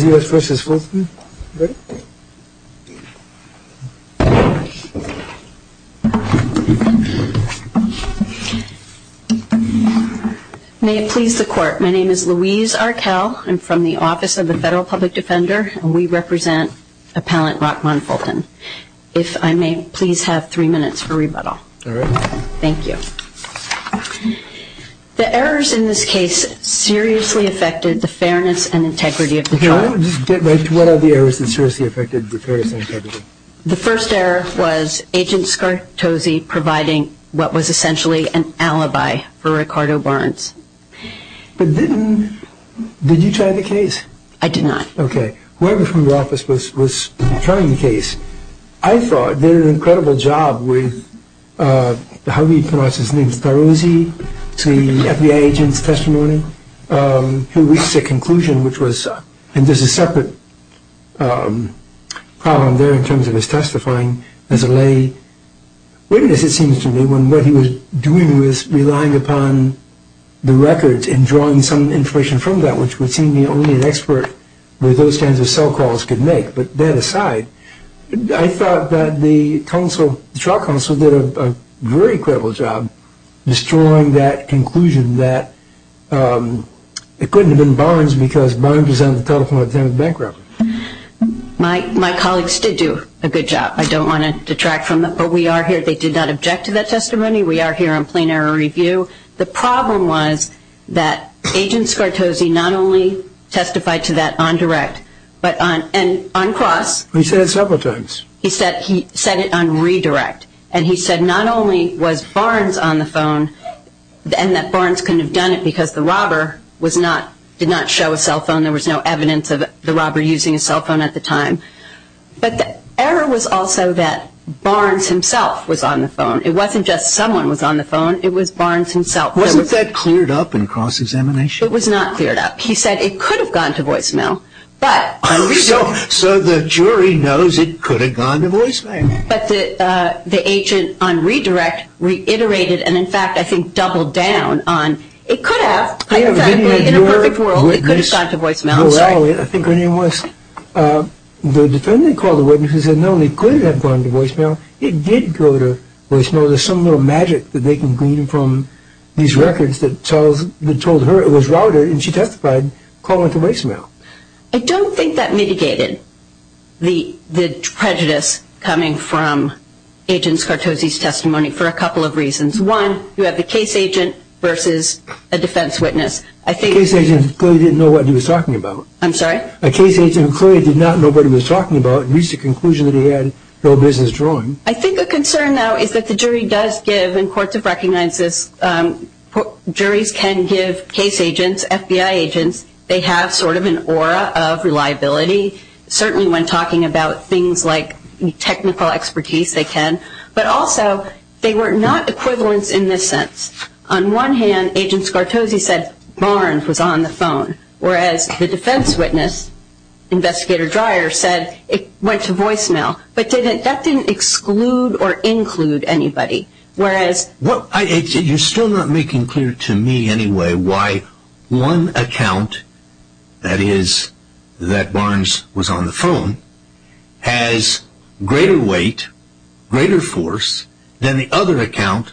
May it please the court, my name is Louise Arkell, I'm from the Office of the Federal Public Defender and we represent Appellant Rockmon Fulton. If I may please have three minutes for rebuttal. Thank you. The errors in this case seriously affected the fairness and integrity of the trial. What are the errors that seriously affected the fairness and integrity? The first error was Agent Scartosi providing what was essentially an alibi for Ricardo Barnes. But didn't, did you try the case? I did not. Okay, whoever from your office was trying the case, I thought did an incredible job with, how do you pronounce his name, Starosi, to the FBI agent's testimony. He reached a conclusion which was, and there's a separate problem there in terms of his testifying as a lay witness it seems to me, when what he was doing was relying upon the records and drawing some information from that which would seem to be only an expert with those kinds of cell calls could make. But that aside, I thought that the trial counsel did a very credible job destroying that conclusion that it couldn't have been Barnes because Barnes was on the telephone at the time of the bankruptcy. My colleagues did do a good job. I don't want to detract from that. But we are here, they did not object to that testimony. We are here on plain error review. The problem was that Agent Scartosi not only testified to that on direct, but on, and on cross. He said it several times. He said it on redirect. And he said not only was Barnes on the phone and that Barnes couldn't have done it because the robber was not, did not show a cell phone, there was no evidence of the robber using a cell phone at the time. But the error was also that Barnes himself was on the phone. It wasn't just someone was on the phone, it was Barnes himself. Wasn't that cleared up in cross-examination? It was not cleared up. He said it could have gone to voicemail, but. So the jury knows it could have gone to voicemail. But the agent on redirect reiterated, and in fact, I think doubled down on, it could have, hypothetically, in a perfect world, it could have gone to voicemail. I think her name was, the defendant called the witness and said no, it could have gone to voicemail. It did go to voicemail. There's some little magic that they can glean from these records that tells, that told her it was routed and she testified calling it to voicemail. I don't think that mitigated the, the prejudice coming from Agent Scartosi's testimony for a couple of reasons. One, you have the case agent versus a defense witness. I think. Case agent clearly didn't know what he was talking about. I'm sorry? A case agent clearly did not know what he was talking about and reached the conclusion that he had no business drawing. I think a concern, though, is that the jury does give, and courts have recognized this, juries can give case agents, FBI agents, they have sort of an aura of reliability. Certainly when talking about things like technical expertise, they can. But also, they were not equivalents in this sense. On one hand, Agent Scartosi said Barnes was on the phone, whereas the defense witness, Investigator Dreyer, said it went to voicemail. But that didn't exclude or include anybody. Whereas... Well, you're still not making clear to me anyway why one account, that is, that Barnes was on the phone, has greater weight, greater force, than the other account,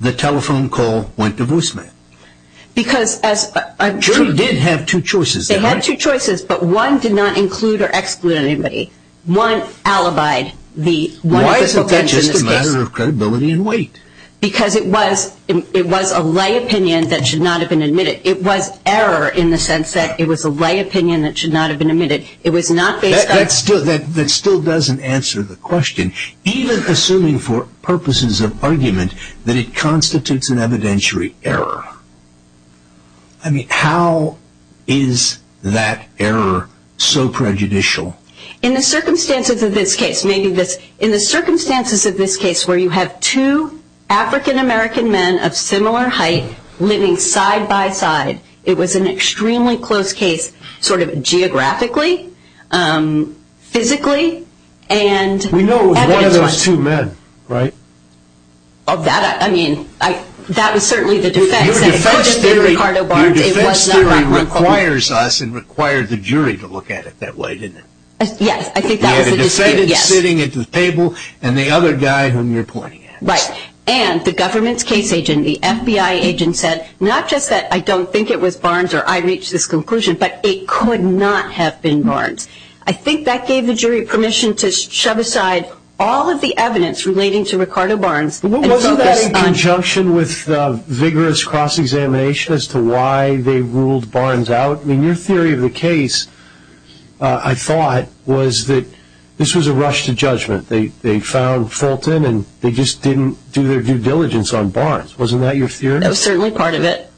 the telephone call went to voicemail. Because as... The jury did have two choices. They had two choices, but one did not include or exclude anybody. One alibied the... Why is that just a matter of credibility and weight? Because it was a lay opinion that should not have been admitted. It was error in the sense that it was a lay opinion that should not have been admitted. It was not based on... That still doesn't answer the question. Even assuming for purposes of argument that it error so prejudicial. In the circumstances of this case, maybe this... In the circumstances of this case where you have two African-American men of similar height living side by side, it was an extremely close case, sort of geographically, physically, and... We know it was one of those two men, right? Of that, I mean, that was certainly the defense... Our defense theory requires us and required the jury to look at it that way, didn't it? Yes, I think that was... You had a defendant sitting at the table and the other guy whom you're pointing at. Right. And the government's case agent, the FBI agent said, not just that I don't think it was Barnes or I reached this conclusion, but it could not have been Barnes. I think that gave the jury permission to shove aside all of the evidence relating to Ricardo Barnes... Wasn't that in conjunction with vigorous cross-examination as to why they ruled Barnes out? I mean, your theory of the case, I thought, was that this was a rush to judgment. They found Fulton and they just didn't do their due diligence on Barnes. Wasn't that your theory? That was certainly part of it.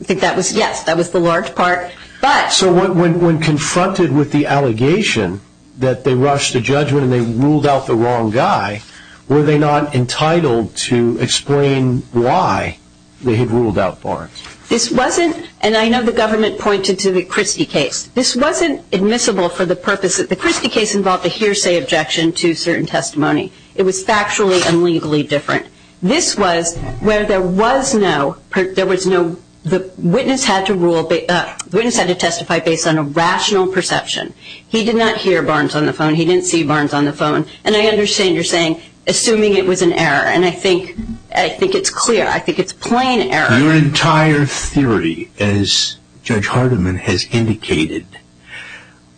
I think that was... Yes, that was the large part, but... So when confronted with the allegation that they rushed to judgment and they ruled out the wrong guy, were they not entitled to explain why they had ruled out Barnes? This wasn't... And I know the government pointed to the Christie case. This wasn't admissible for the purpose that... The Christie case involved a hearsay objection to certain testimony. It was factually and legally different. This was where there was no... There was no... The witness had to rule... The witness had to testify based on a rational perception. He did not hear Barnes on the phone. He didn't see Barnes on the phone. And I understand you're saying, assuming it was an error. And I think... I think it's clear. I think it's plain error. Your entire theory, as Judge Hardiman has indicated,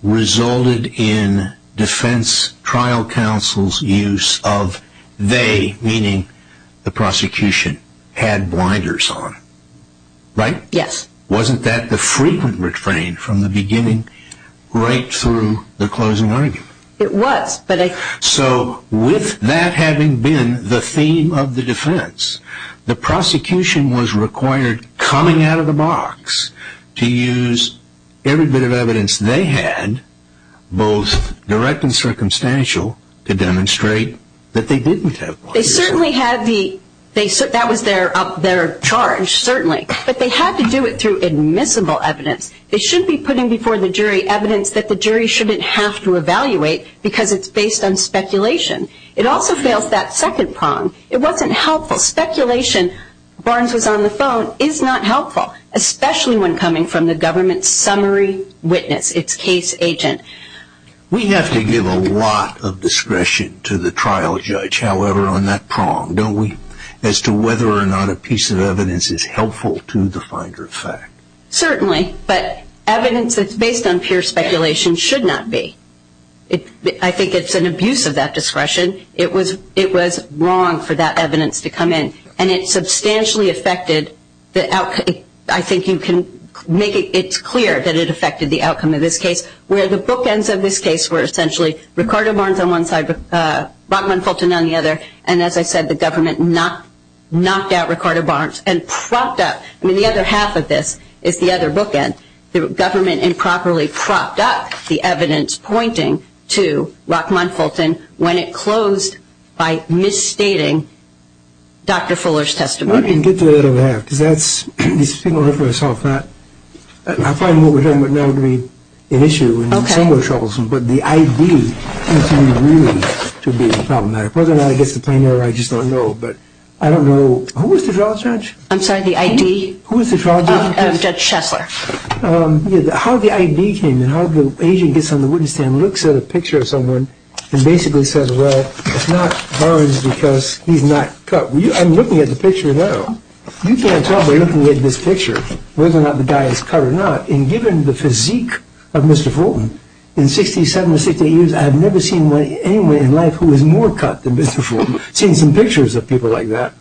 resulted in defense trial counsel's use of they, meaning the prosecution, had blinders on. Right? Yes. Wasn't that the frequent refrain from the beginning right through the closing argument? It was, but I... So with that having been the theme of the defense, the prosecution was required, coming out of the box, to use every bit of evidence they had, both direct and circumstantial, They certainly had the... That was their charge, certainly. But they had to do it through admissible evidence. They shouldn't be putting before the jury evidence that the jury shouldn't have to evaluate because it's based on speculation. It also fails that second prong. It wasn't helpful. Speculation, Barnes was on the phone, is not helpful, especially when coming from the government's summary witness, its case agent. We have to give a lot of discretion to the trial judge, however, on that prong, don't we? As to whether or not a piece of evidence is helpful to the finder of fact. Certainly. But evidence that's based on pure speculation should not be. I think it's an abuse of that discretion. It was wrong for that evidence to come in. And it substantially affected the outcome. I think you can make it clear that it affected the outcome of this case, where the bookends of this case were essentially, Ricardo Barnes on one side, Rockman Fulton on the other. And as I said, the government knocked out Ricardo Barnes and propped up... I mean, the other half of this is the other bookend. The government improperly propped up the evidence pointing to Rockman Fulton when it closed by misstating Dr. Fuller's testimony. I can get to the other half, because that's... I find what we're talking about now to be an issue and somewhat troublesome, but the I.D. seems to me really to be problematic. Whether or not it gets to plain error, I just don't know. But I don't know... Who was the trial judge? I'm sorry, the I.D.? Who was the trial judge? Judge Schessler. How the I.D. came in, how the agent gets on the witness stand, looks at a picture of someone and basically says, well, it's not Barnes because he's not cut. I'm looking at the picture now. You can't tell by looking at this picture whether or not the guy is cut or not. And given the physique of Mr. Fulton, in 67 or 68 years, I've never seen anyone in life who is more cut than Mr. Fulton. I've seen some pictures of people like that.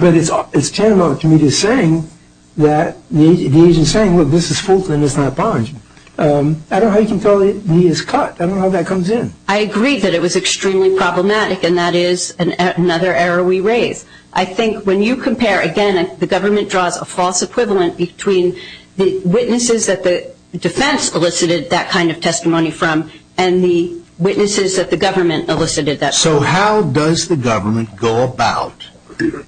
But it's tantamount to me just saying that the agent's saying, look, this is Fulton, this is not Barnes. I don't know how you can tell that he is cut. I don't know how that comes in. I agree that it was extremely problematic, and that is another error we raise. I think when you compare, again, the government draws a false equivalent between the witnesses that the defense elicited that kind of testimony from and the witnesses that the government elicited that testimony from. So how does the government go about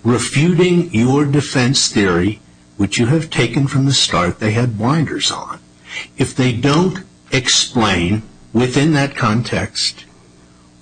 refuting your defense theory, which you have taken from the start they had blinders on, if they don't explain within that context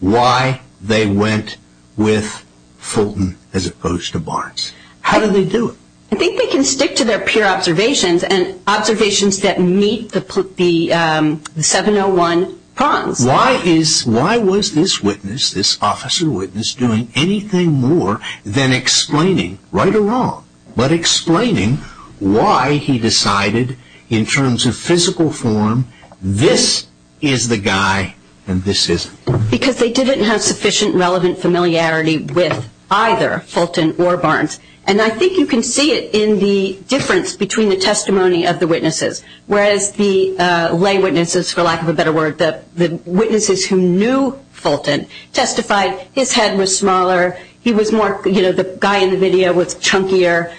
why they went with Fulton as opposed to Barnes? How do they do it? I think they can stick to their peer observations and observations that meet the 701 prongs. Why was this witness, this officer witness, doing anything more than explaining, right or wrong, but explaining why he decided in terms of physical form, this is the guy and this isn't? Because they didn't have sufficient relevant familiarity with either Fulton or Barnes. And I think you can see it in the difference between the testimony of the witnesses, whereas the lay witnesses, for lack of a better word, the witnesses who knew Fulton testified his head was smaller, he was more, you know, the guy in the video was chunkier.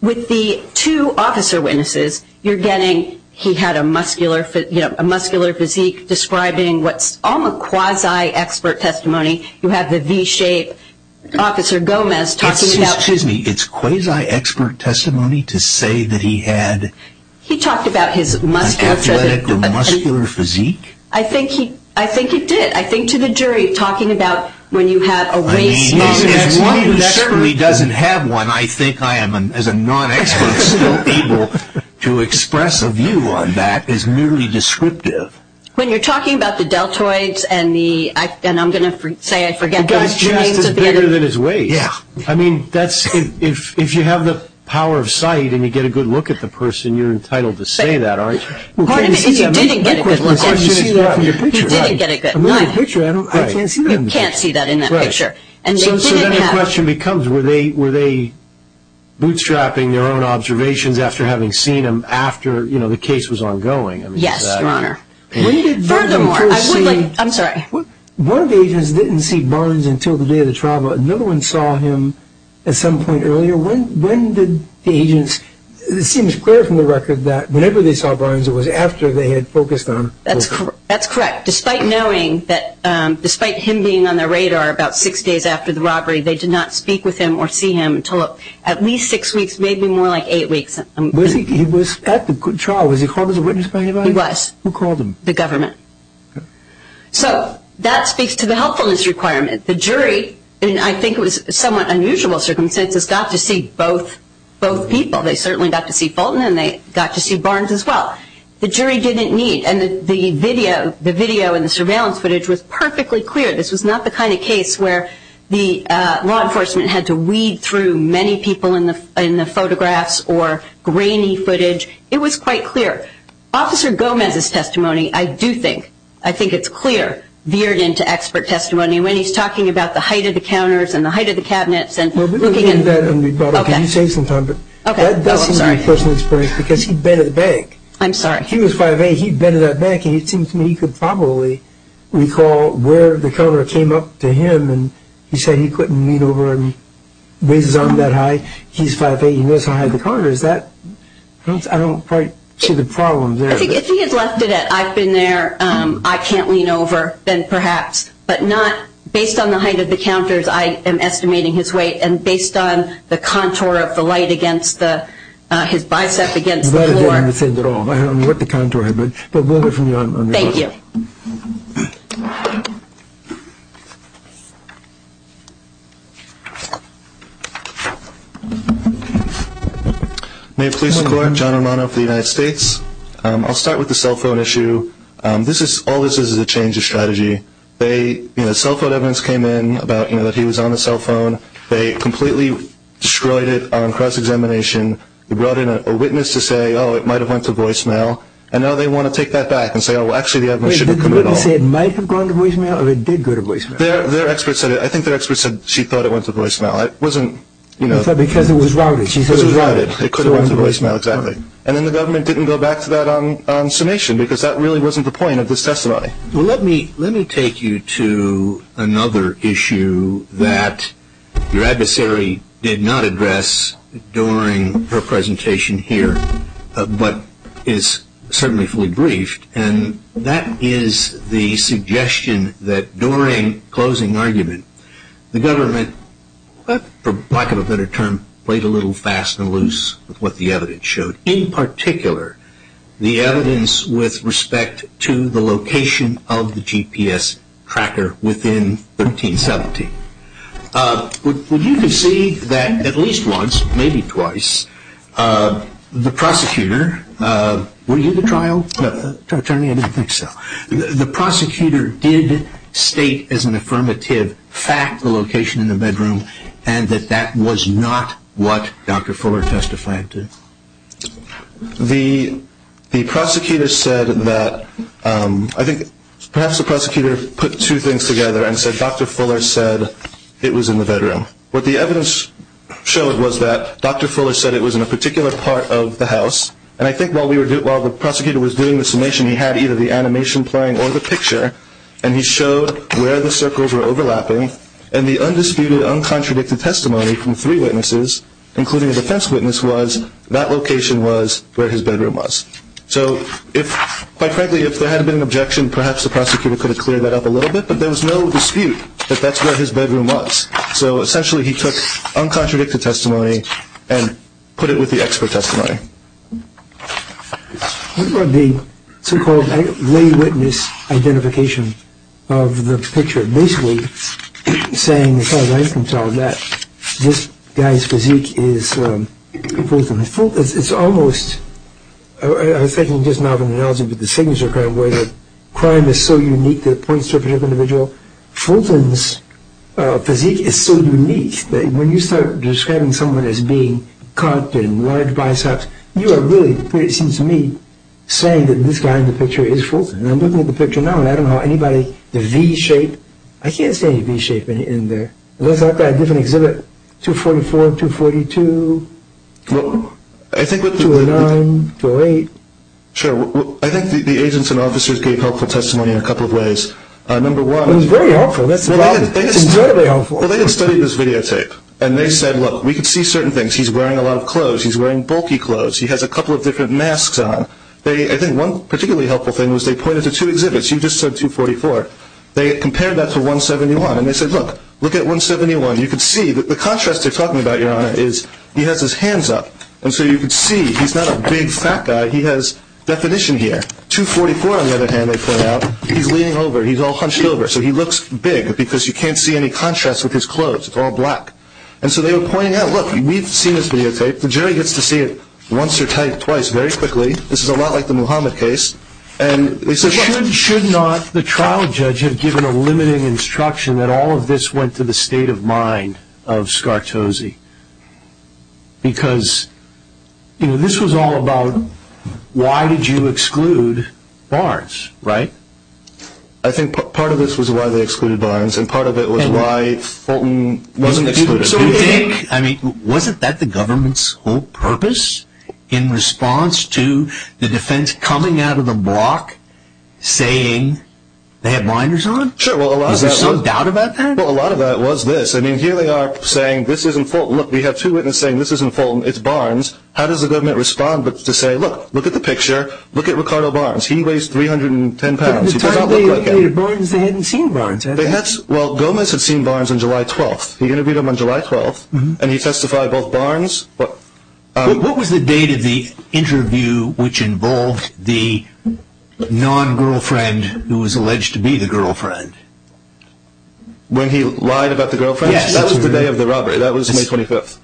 With the two officer witnesses, you are getting he had a muscular physique describing what is almost quasi-expert testimony. You have the V-shape officer Gomez talking about... Excuse me, it's quasi-expert testimony to say that he had... He talked about his muscular physique. I think he did. I think to the jury, talking about when you have a waist... As one who certainly doesn't have one, I think I am, as a non-expert, still able to express a view on that is merely descriptive. When you are talking about the deltoids and I am going to say I forget... The guy's chest is bigger than his waist. Yeah. I mean, if you have the power of sight and you get a good look at the person, you are entitled to say that, aren't you? Pardon me, if you didn't get a good look... The question is what in your picture, right? He didn't get a good look. I mean, the picture, I can't see that in the picture. You can't see that in that picture. Right. So then the question becomes, were they bootstrapping their own observations after having seen him after the case was ongoing? Yes, Your Honor. Furthermore, I would like... I'm sorry. One of the agents didn't see Barnes until the day of the trial. Another one saw him at some point earlier. When did the agents... It seems clear from the record that whenever they saw Barnes, it was after they had focused on... That's correct. Despite knowing that, despite him being on their radar about six days after the robbery, they did not speak with him or see him until at least six weeks, maybe more like eight weeks. Was he at the trial? Was he called as a witness by anybody? He was. Who called him? The government. So that speaks to the helpfulness requirement. The jury, in I think it was somewhat unusual circumstances, got to see both people. They certainly got to see Fulton and they got to see Barnes as well. The jury didn't need... And the video and the surveillance footage was perfectly clear. This was not the kind of case where the law enforcement had to weed through many people in the photographs or grainy footage. It was quite clear. Officer Gomez's testimony, I do think, I think it's clear, veered into expert testimony when he's talking about the height of the counters and the height of the cabinets and looking at... Well, we can leave that and we can save some time. Okay. Oh, I'm sorry. Because he'd been at the bank. I'm sorry. He was 5A. He'd been at that bank and it seems to me he could probably recall where the counter came up to him and he said he couldn't lean over and raise his arm that high. He's 5A. He knows how high the counter is. I don't quite see the problem there. If he had left it at I've been there, I can't lean over, then perhaps. But not based on the height of the counters I am estimating his weight and based on the contour of the light against his bicep against the floor. I don't know what the contour... Thank you. Okay. Native Policing Court, John Romano for the United States. I'll start with the cell phone issue. All this is is a change of strategy. Cell phone evidence came in that he was on the cell phone. They completely destroyed it on cross-examination. They brought in a witness to say, oh, it might have went to voicemail, and now they want to take that back and say, oh, actually the evidence should have come at all. Wait, did the witness say it might have gone to voicemail or it did go to voicemail? Their expert said it. I think their expert said she thought it went to voicemail. It wasn't, you know... Because it was routed. Because it was routed. It could have gone to voicemail, exactly. And then the government didn't go back to that on summation because that really wasn't the point of this testimony. Well, let me take you to another issue that your adversary did not address during her presentation here but is certainly fully briefed, and that is the suggestion that during closing argument the government, for lack of a better term, played a little fast and loose with what the evidence showed, in particular the evidence with respect to the location of the GPS tracker within 1370. Would you concede that at least once, maybe twice, the prosecutor... Were you the trial attorney? I didn't think so. The prosecutor did state as an affirmative fact the location in the bedroom and that that was not what Dr. Fuller testified to. The prosecutor said that... I think perhaps the prosecutor put two things together and said Dr. Fuller said it was in the bedroom. What the evidence showed was that Dr. Fuller said it was in a particular part of the house and I think while the prosecutor was doing the summation, he had either the animation playing or the picture and he showed where the circles were overlapping and the undisputed, uncontradicted testimony from three witnesses, including a defense witness, was that location was where his bedroom was. So quite frankly, if there had been an objection, perhaps the prosecutor could have cleared that up a little bit but there was no dispute that that's where his bedroom was. So essentially he took uncontradicted testimony and put it with the expert testimony. What about the so-called lay witness identification of the picture? Basically saying, as far as I can tell, that this guy's physique is... It's almost... I was thinking just now of an analogy with the signature crime where the crime is so unique that it points to a particular individual. Fulton's physique is so unique that when you start describing someone as being cut and large biceps, you are really, it seems to me, saying that this guy in the picture is Fulton. And I'm looking at the picture now and I don't know how anybody... The V-shape, I can't see any V-shape in there. Unless I've got a different exhibit, 244, 242, 209, 208. Sure. I think the agents and officers gave helpful testimony in a couple of ways. Number one... It was very helpful. That's incredibly helpful. Well, they had studied this videotape and they said, look, we can see certain things. He's wearing a lot of clothes. He's wearing bulky clothes. He has a couple of different masks on. I think one particularly helpful thing was they pointed to two exhibits. You just said 244. They compared that to 171 and they said, look, look at 171. You can see that the contrast they're talking about, Your Honor, is he has his hands up. And so you can see he's not a big fat guy. He has definition here. 244, on the other hand, they point out, he's leaning over. He's all hunched over. So he looks big because you can't see any contrast with his clothes. It's all black. And so they were pointing out, look, we've seen this videotape. The jury gets to see it once or twice very quickly. This is a lot like the Muhammad case. And they said, look... Should not the trial judge have given a limiting instruction that all of this went to the state of mind of Scartosi? Because, you know, this was all about why did you exclude Barnes, right? I think part of this was why they excluded Barnes and part of it was why Fulton wasn't excluded. So you think, I mean, wasn't that the government's whole purpose in response to the defense coming out of the block saying they had blinders on? Sure. Is there some doubt about that? Well, a lot of that was this. I mean, here they are saying this isn't Fulton. Look, we have two witnesses saying this isn't Fulton. It's Barnes. How does the government respond to say, look, look at the picture. Look at Ricardo Barnes. He weighs 310 pounds. He does not look like him. But at the time they included Barnes, they hadn't seen Barnes, had they? Well, Gomez had seen Barnes on July 12th. He interviewed him on July 12th, and he testified both Barnes... What was the date of the interview which involved the non-girlfriend who was alleged to be the girlfriend? When he lied about the girlfriend? Yes. That was the day of the robbery. That was May 25th.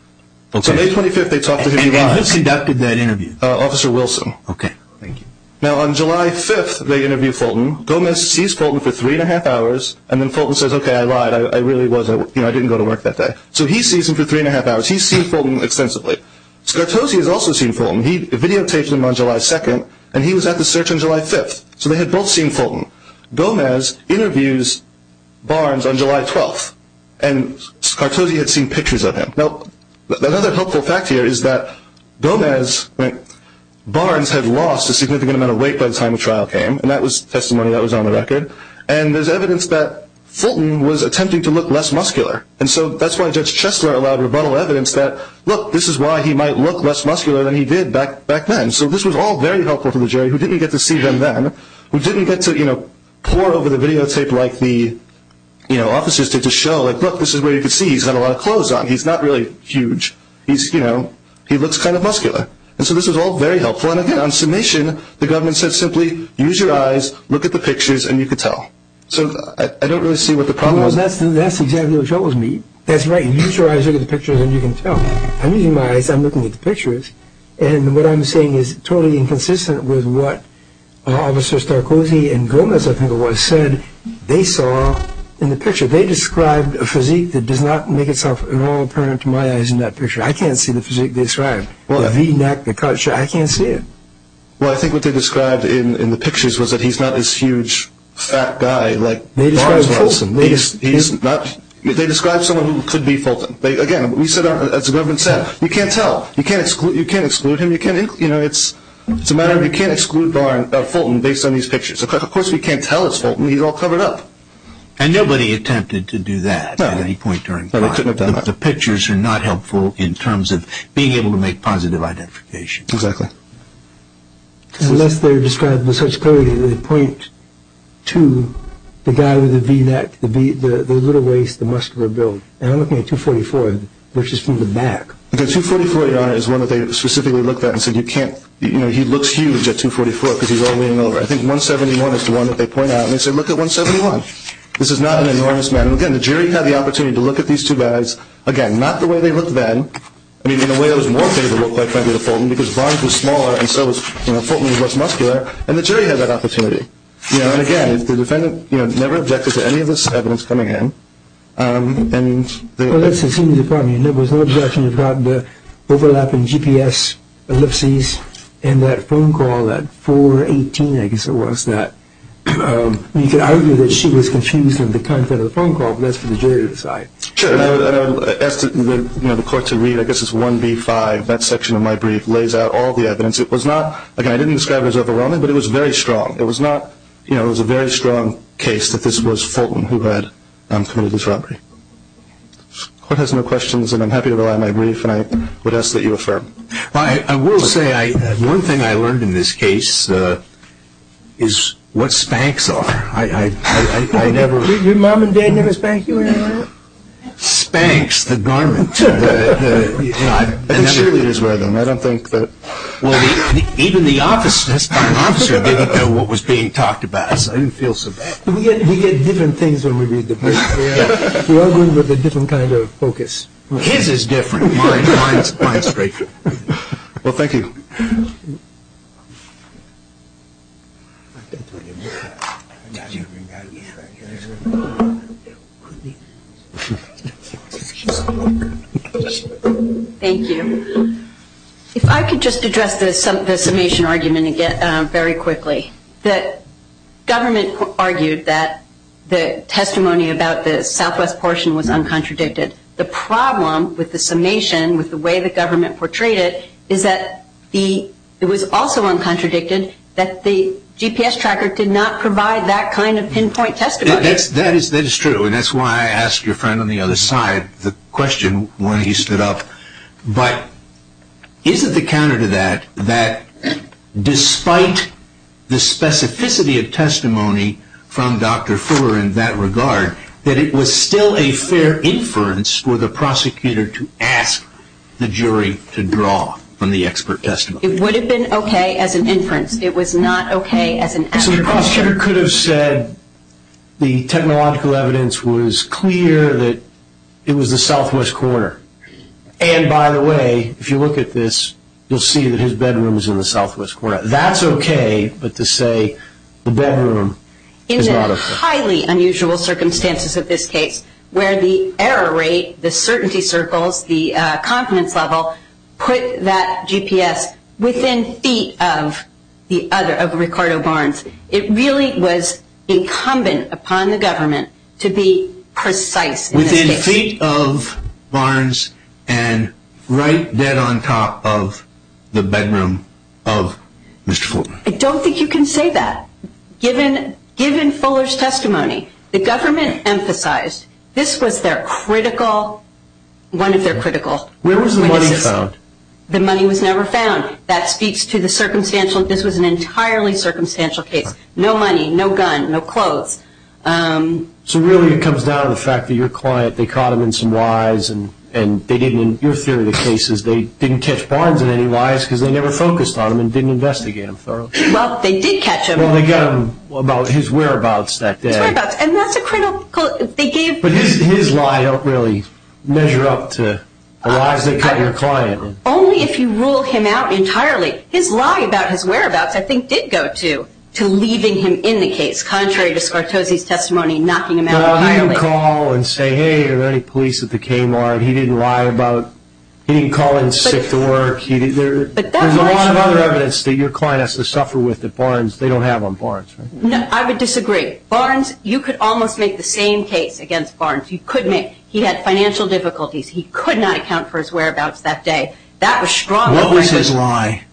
So May 25th they talked to him. And who conducted that interview? Officer Wilson. Okay, thank you. Now, on July 5th they interviewed Fulton. Gomez sees Fulton for three and a half hours, and then Fulton says, okay, I lied. I really was. I didn't go to work that day. So he sees him for three and a half hours. He's seen Fulton extensively. Scartosi has also seen Fulton. He videotaped him on July 2nd, and he was at the search on July 5th. So they had both seen Fulton. Gomez interviews Barnes on July 12th, and Scartosi had seen pictures of him. Now, another helpful fact here is that Gomez, Barnes had lost a significant amount of weight by the time the trial came, and that was testimony that was on the record. And there's evidence that Fulton was attempting to look less muscular, and so that's why Judge Chesler allowed rebuttal evidence that, look, this is why he might look less muscular than he did back then. So this was all very helpful to the jury who didn't get to see them then, who didn't get to, you know, pour over the videotape like the officers did to show, like, look, this is where you can see he's got a lot of clothes on. He's not really huge. He's, you know, he looks kind of muscular. And so this was all very helpful. And, again, on submission, the government said simply, use your eyes, look at the pictures, and you can tell. So I don't really see what the problem was. Well, that's exactly what you told me. That's right. Use your eyes, look at the pictures, and you can tell. I'm using my eyes. I'm looking at the pictures. And what I'm saying is totally inconsistent with what Officer Starcozzi and Gomez, I think it was, said they saw in the picture. They described a physique that does not make itself at all apparent to my eyes in that picture. I can't see the physique they described, the V-neck, the cut. I can't see it. Well, I think what they described in the pictures was that he's not this huge, fat guy. They described someone who could be Fulton. Again, as the government said, you can't tell. You can't exclude him. It's a matter of you can't exclude Fulton based on these pictures. Of course, we can't tell it's Fulton. He's all covered up. And nobody attempted to do that at any point during time. The pictures are not helpful in terms of being able to make positive identification. Exactly. Unless they're described with such clarity that they point to the guy with the V-neck, the little waist, the muscular build. And I'm looking at 244, which is from the back. 244, Your Honor, is one that they specifically looked at and said he looks huge at 244 because he's all leaning over. I think 171 is the one that they point out. And they said, look at 171. This is not an enormous man. Again, the jury had the opportunity to look at these two guys. Again, not the way they looked then. I mean, in a way, it was more favorable, frankly, to Fulton because Barnes was smaller and so Fulton was less muscular. And the jury had that opportunity. And, again, the defendant never objected to any of this evidence coming in. Well, let's assume there was no objection. You've got the overlapping GPS ellipses in that phone call, that 418, I guess it was, that you could argue that she was confused in the content of the phone call, but that's for the jury to decide. Sure. And I asked the court to read, I guess it's 1B-5. That section of my brief lays out all the evidence. It was not, again, I didn't describe it as overwhelming, but it was very strong. It was not, you know, it was a very strong case that this was Fulton who had committed this robbery. The court has no questions, and I'm happy to rely on my brief, and I would ask that you affirm. Well, I will say one thing I learned in this case is what Spanx are. I never. Your mom and dad never spanked you or anything like that? Spanx, the garment. I think cheerleaders wear them. I don't think that. Well, even the officer didn't know what was being talked about, so I didn't feel so bad. We get different things when we read the brief. We all go in with a different kind of focus. His is different. Mine is great. Well, thank you. Thank you. If I could just address the summation argument again very quickly. The government argued that the testimony about the southwest portion was uncontradicted. The problem with the summation, with the way the government portrayed it, is that it was also uncontradicted that the GPS tracker did not provide that kind of pinpoint testimony. That is true, and that's why I asked your friend on the other side the question when he stood up. But is it the counter to that, that despite the specificity of testimony from Dr. Fuller in that regard, that it was still a fair inference for the prosecutor to ask the jury to draw from the expert testimony? It would have been okay as an inference. It was not okay as an asterisk. The prosecutor could have said the technological evidence was clear that it was the southwest corner. And, by the way, if you look at this, you'll see that his bedroom is in the southwest corner. That's okay, but to say the bedroom is not okay. In the highly unusual circumstances of this case where the error rate, the certainty circles, the confidence level put that GPS within feet of Ricardo Barnes, it really was incumbent upon the government to be precise in this case. In feet of Barnes and right dead on top of the bedroom of Mr. Fuller. I don't think you can say that. Given Fuller's testimony, the government emphasized this was their critical, one of their critical witnesses. Where was the money found? The money was never found. That speaks to the circumstantial, this was an entirely circumstantial case. No money, no gun, no clothes. So really it comes down to the fact that your client, they caught him in some lies and they didn't, in your theory of the cases, they didn't catch Barnes in any lies because they never focused on him and didn't investigate him thoroughly. Well, they did catch him. Well, they got him about his whereabouts that day. His whereabouts, and that's a critical, they gave. But his lie helped really measure up to the lies that cut your client. Only if you rule him out entirely. His lie about his whereabouts, I think, did go to leaving him in the case, contrary to Scartosi's testimony, knocking him out violently. He didn't call and say, hey, are there any police at the Kmart? He didn't lie about, he didn't call in sick to work. There's a lot of other evidence that your client has to suffer with at Barnes. They don't have on Barnes, right? I would disagree. Barnes, you could almost make the same case against Barnes. He had financial difficulties. He could not account for his whereabouts that day. What was his lie?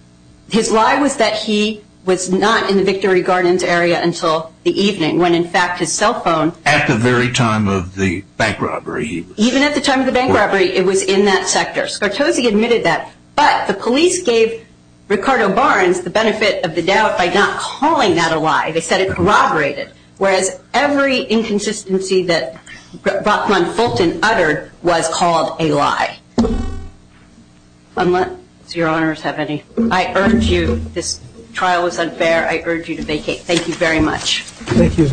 His lie was that he was not in the Victory Gardens area until the evening, when, in fact, his cell phone. At the very time of the bank robbery. Even at the time of the bank robbery, it was in that sector. Scartosi admitted that. But the police gave Ricardo Barnes the benefit of the doubt by not calling that a lie. They said it corroborated. Whereas every inconsistency that Rachman Fulton uttered was called a lie. Unless your honors have any. I urge you, this trial was unfair. I urge you to vacate. Thank you very much. Thank you very much, Ricardo.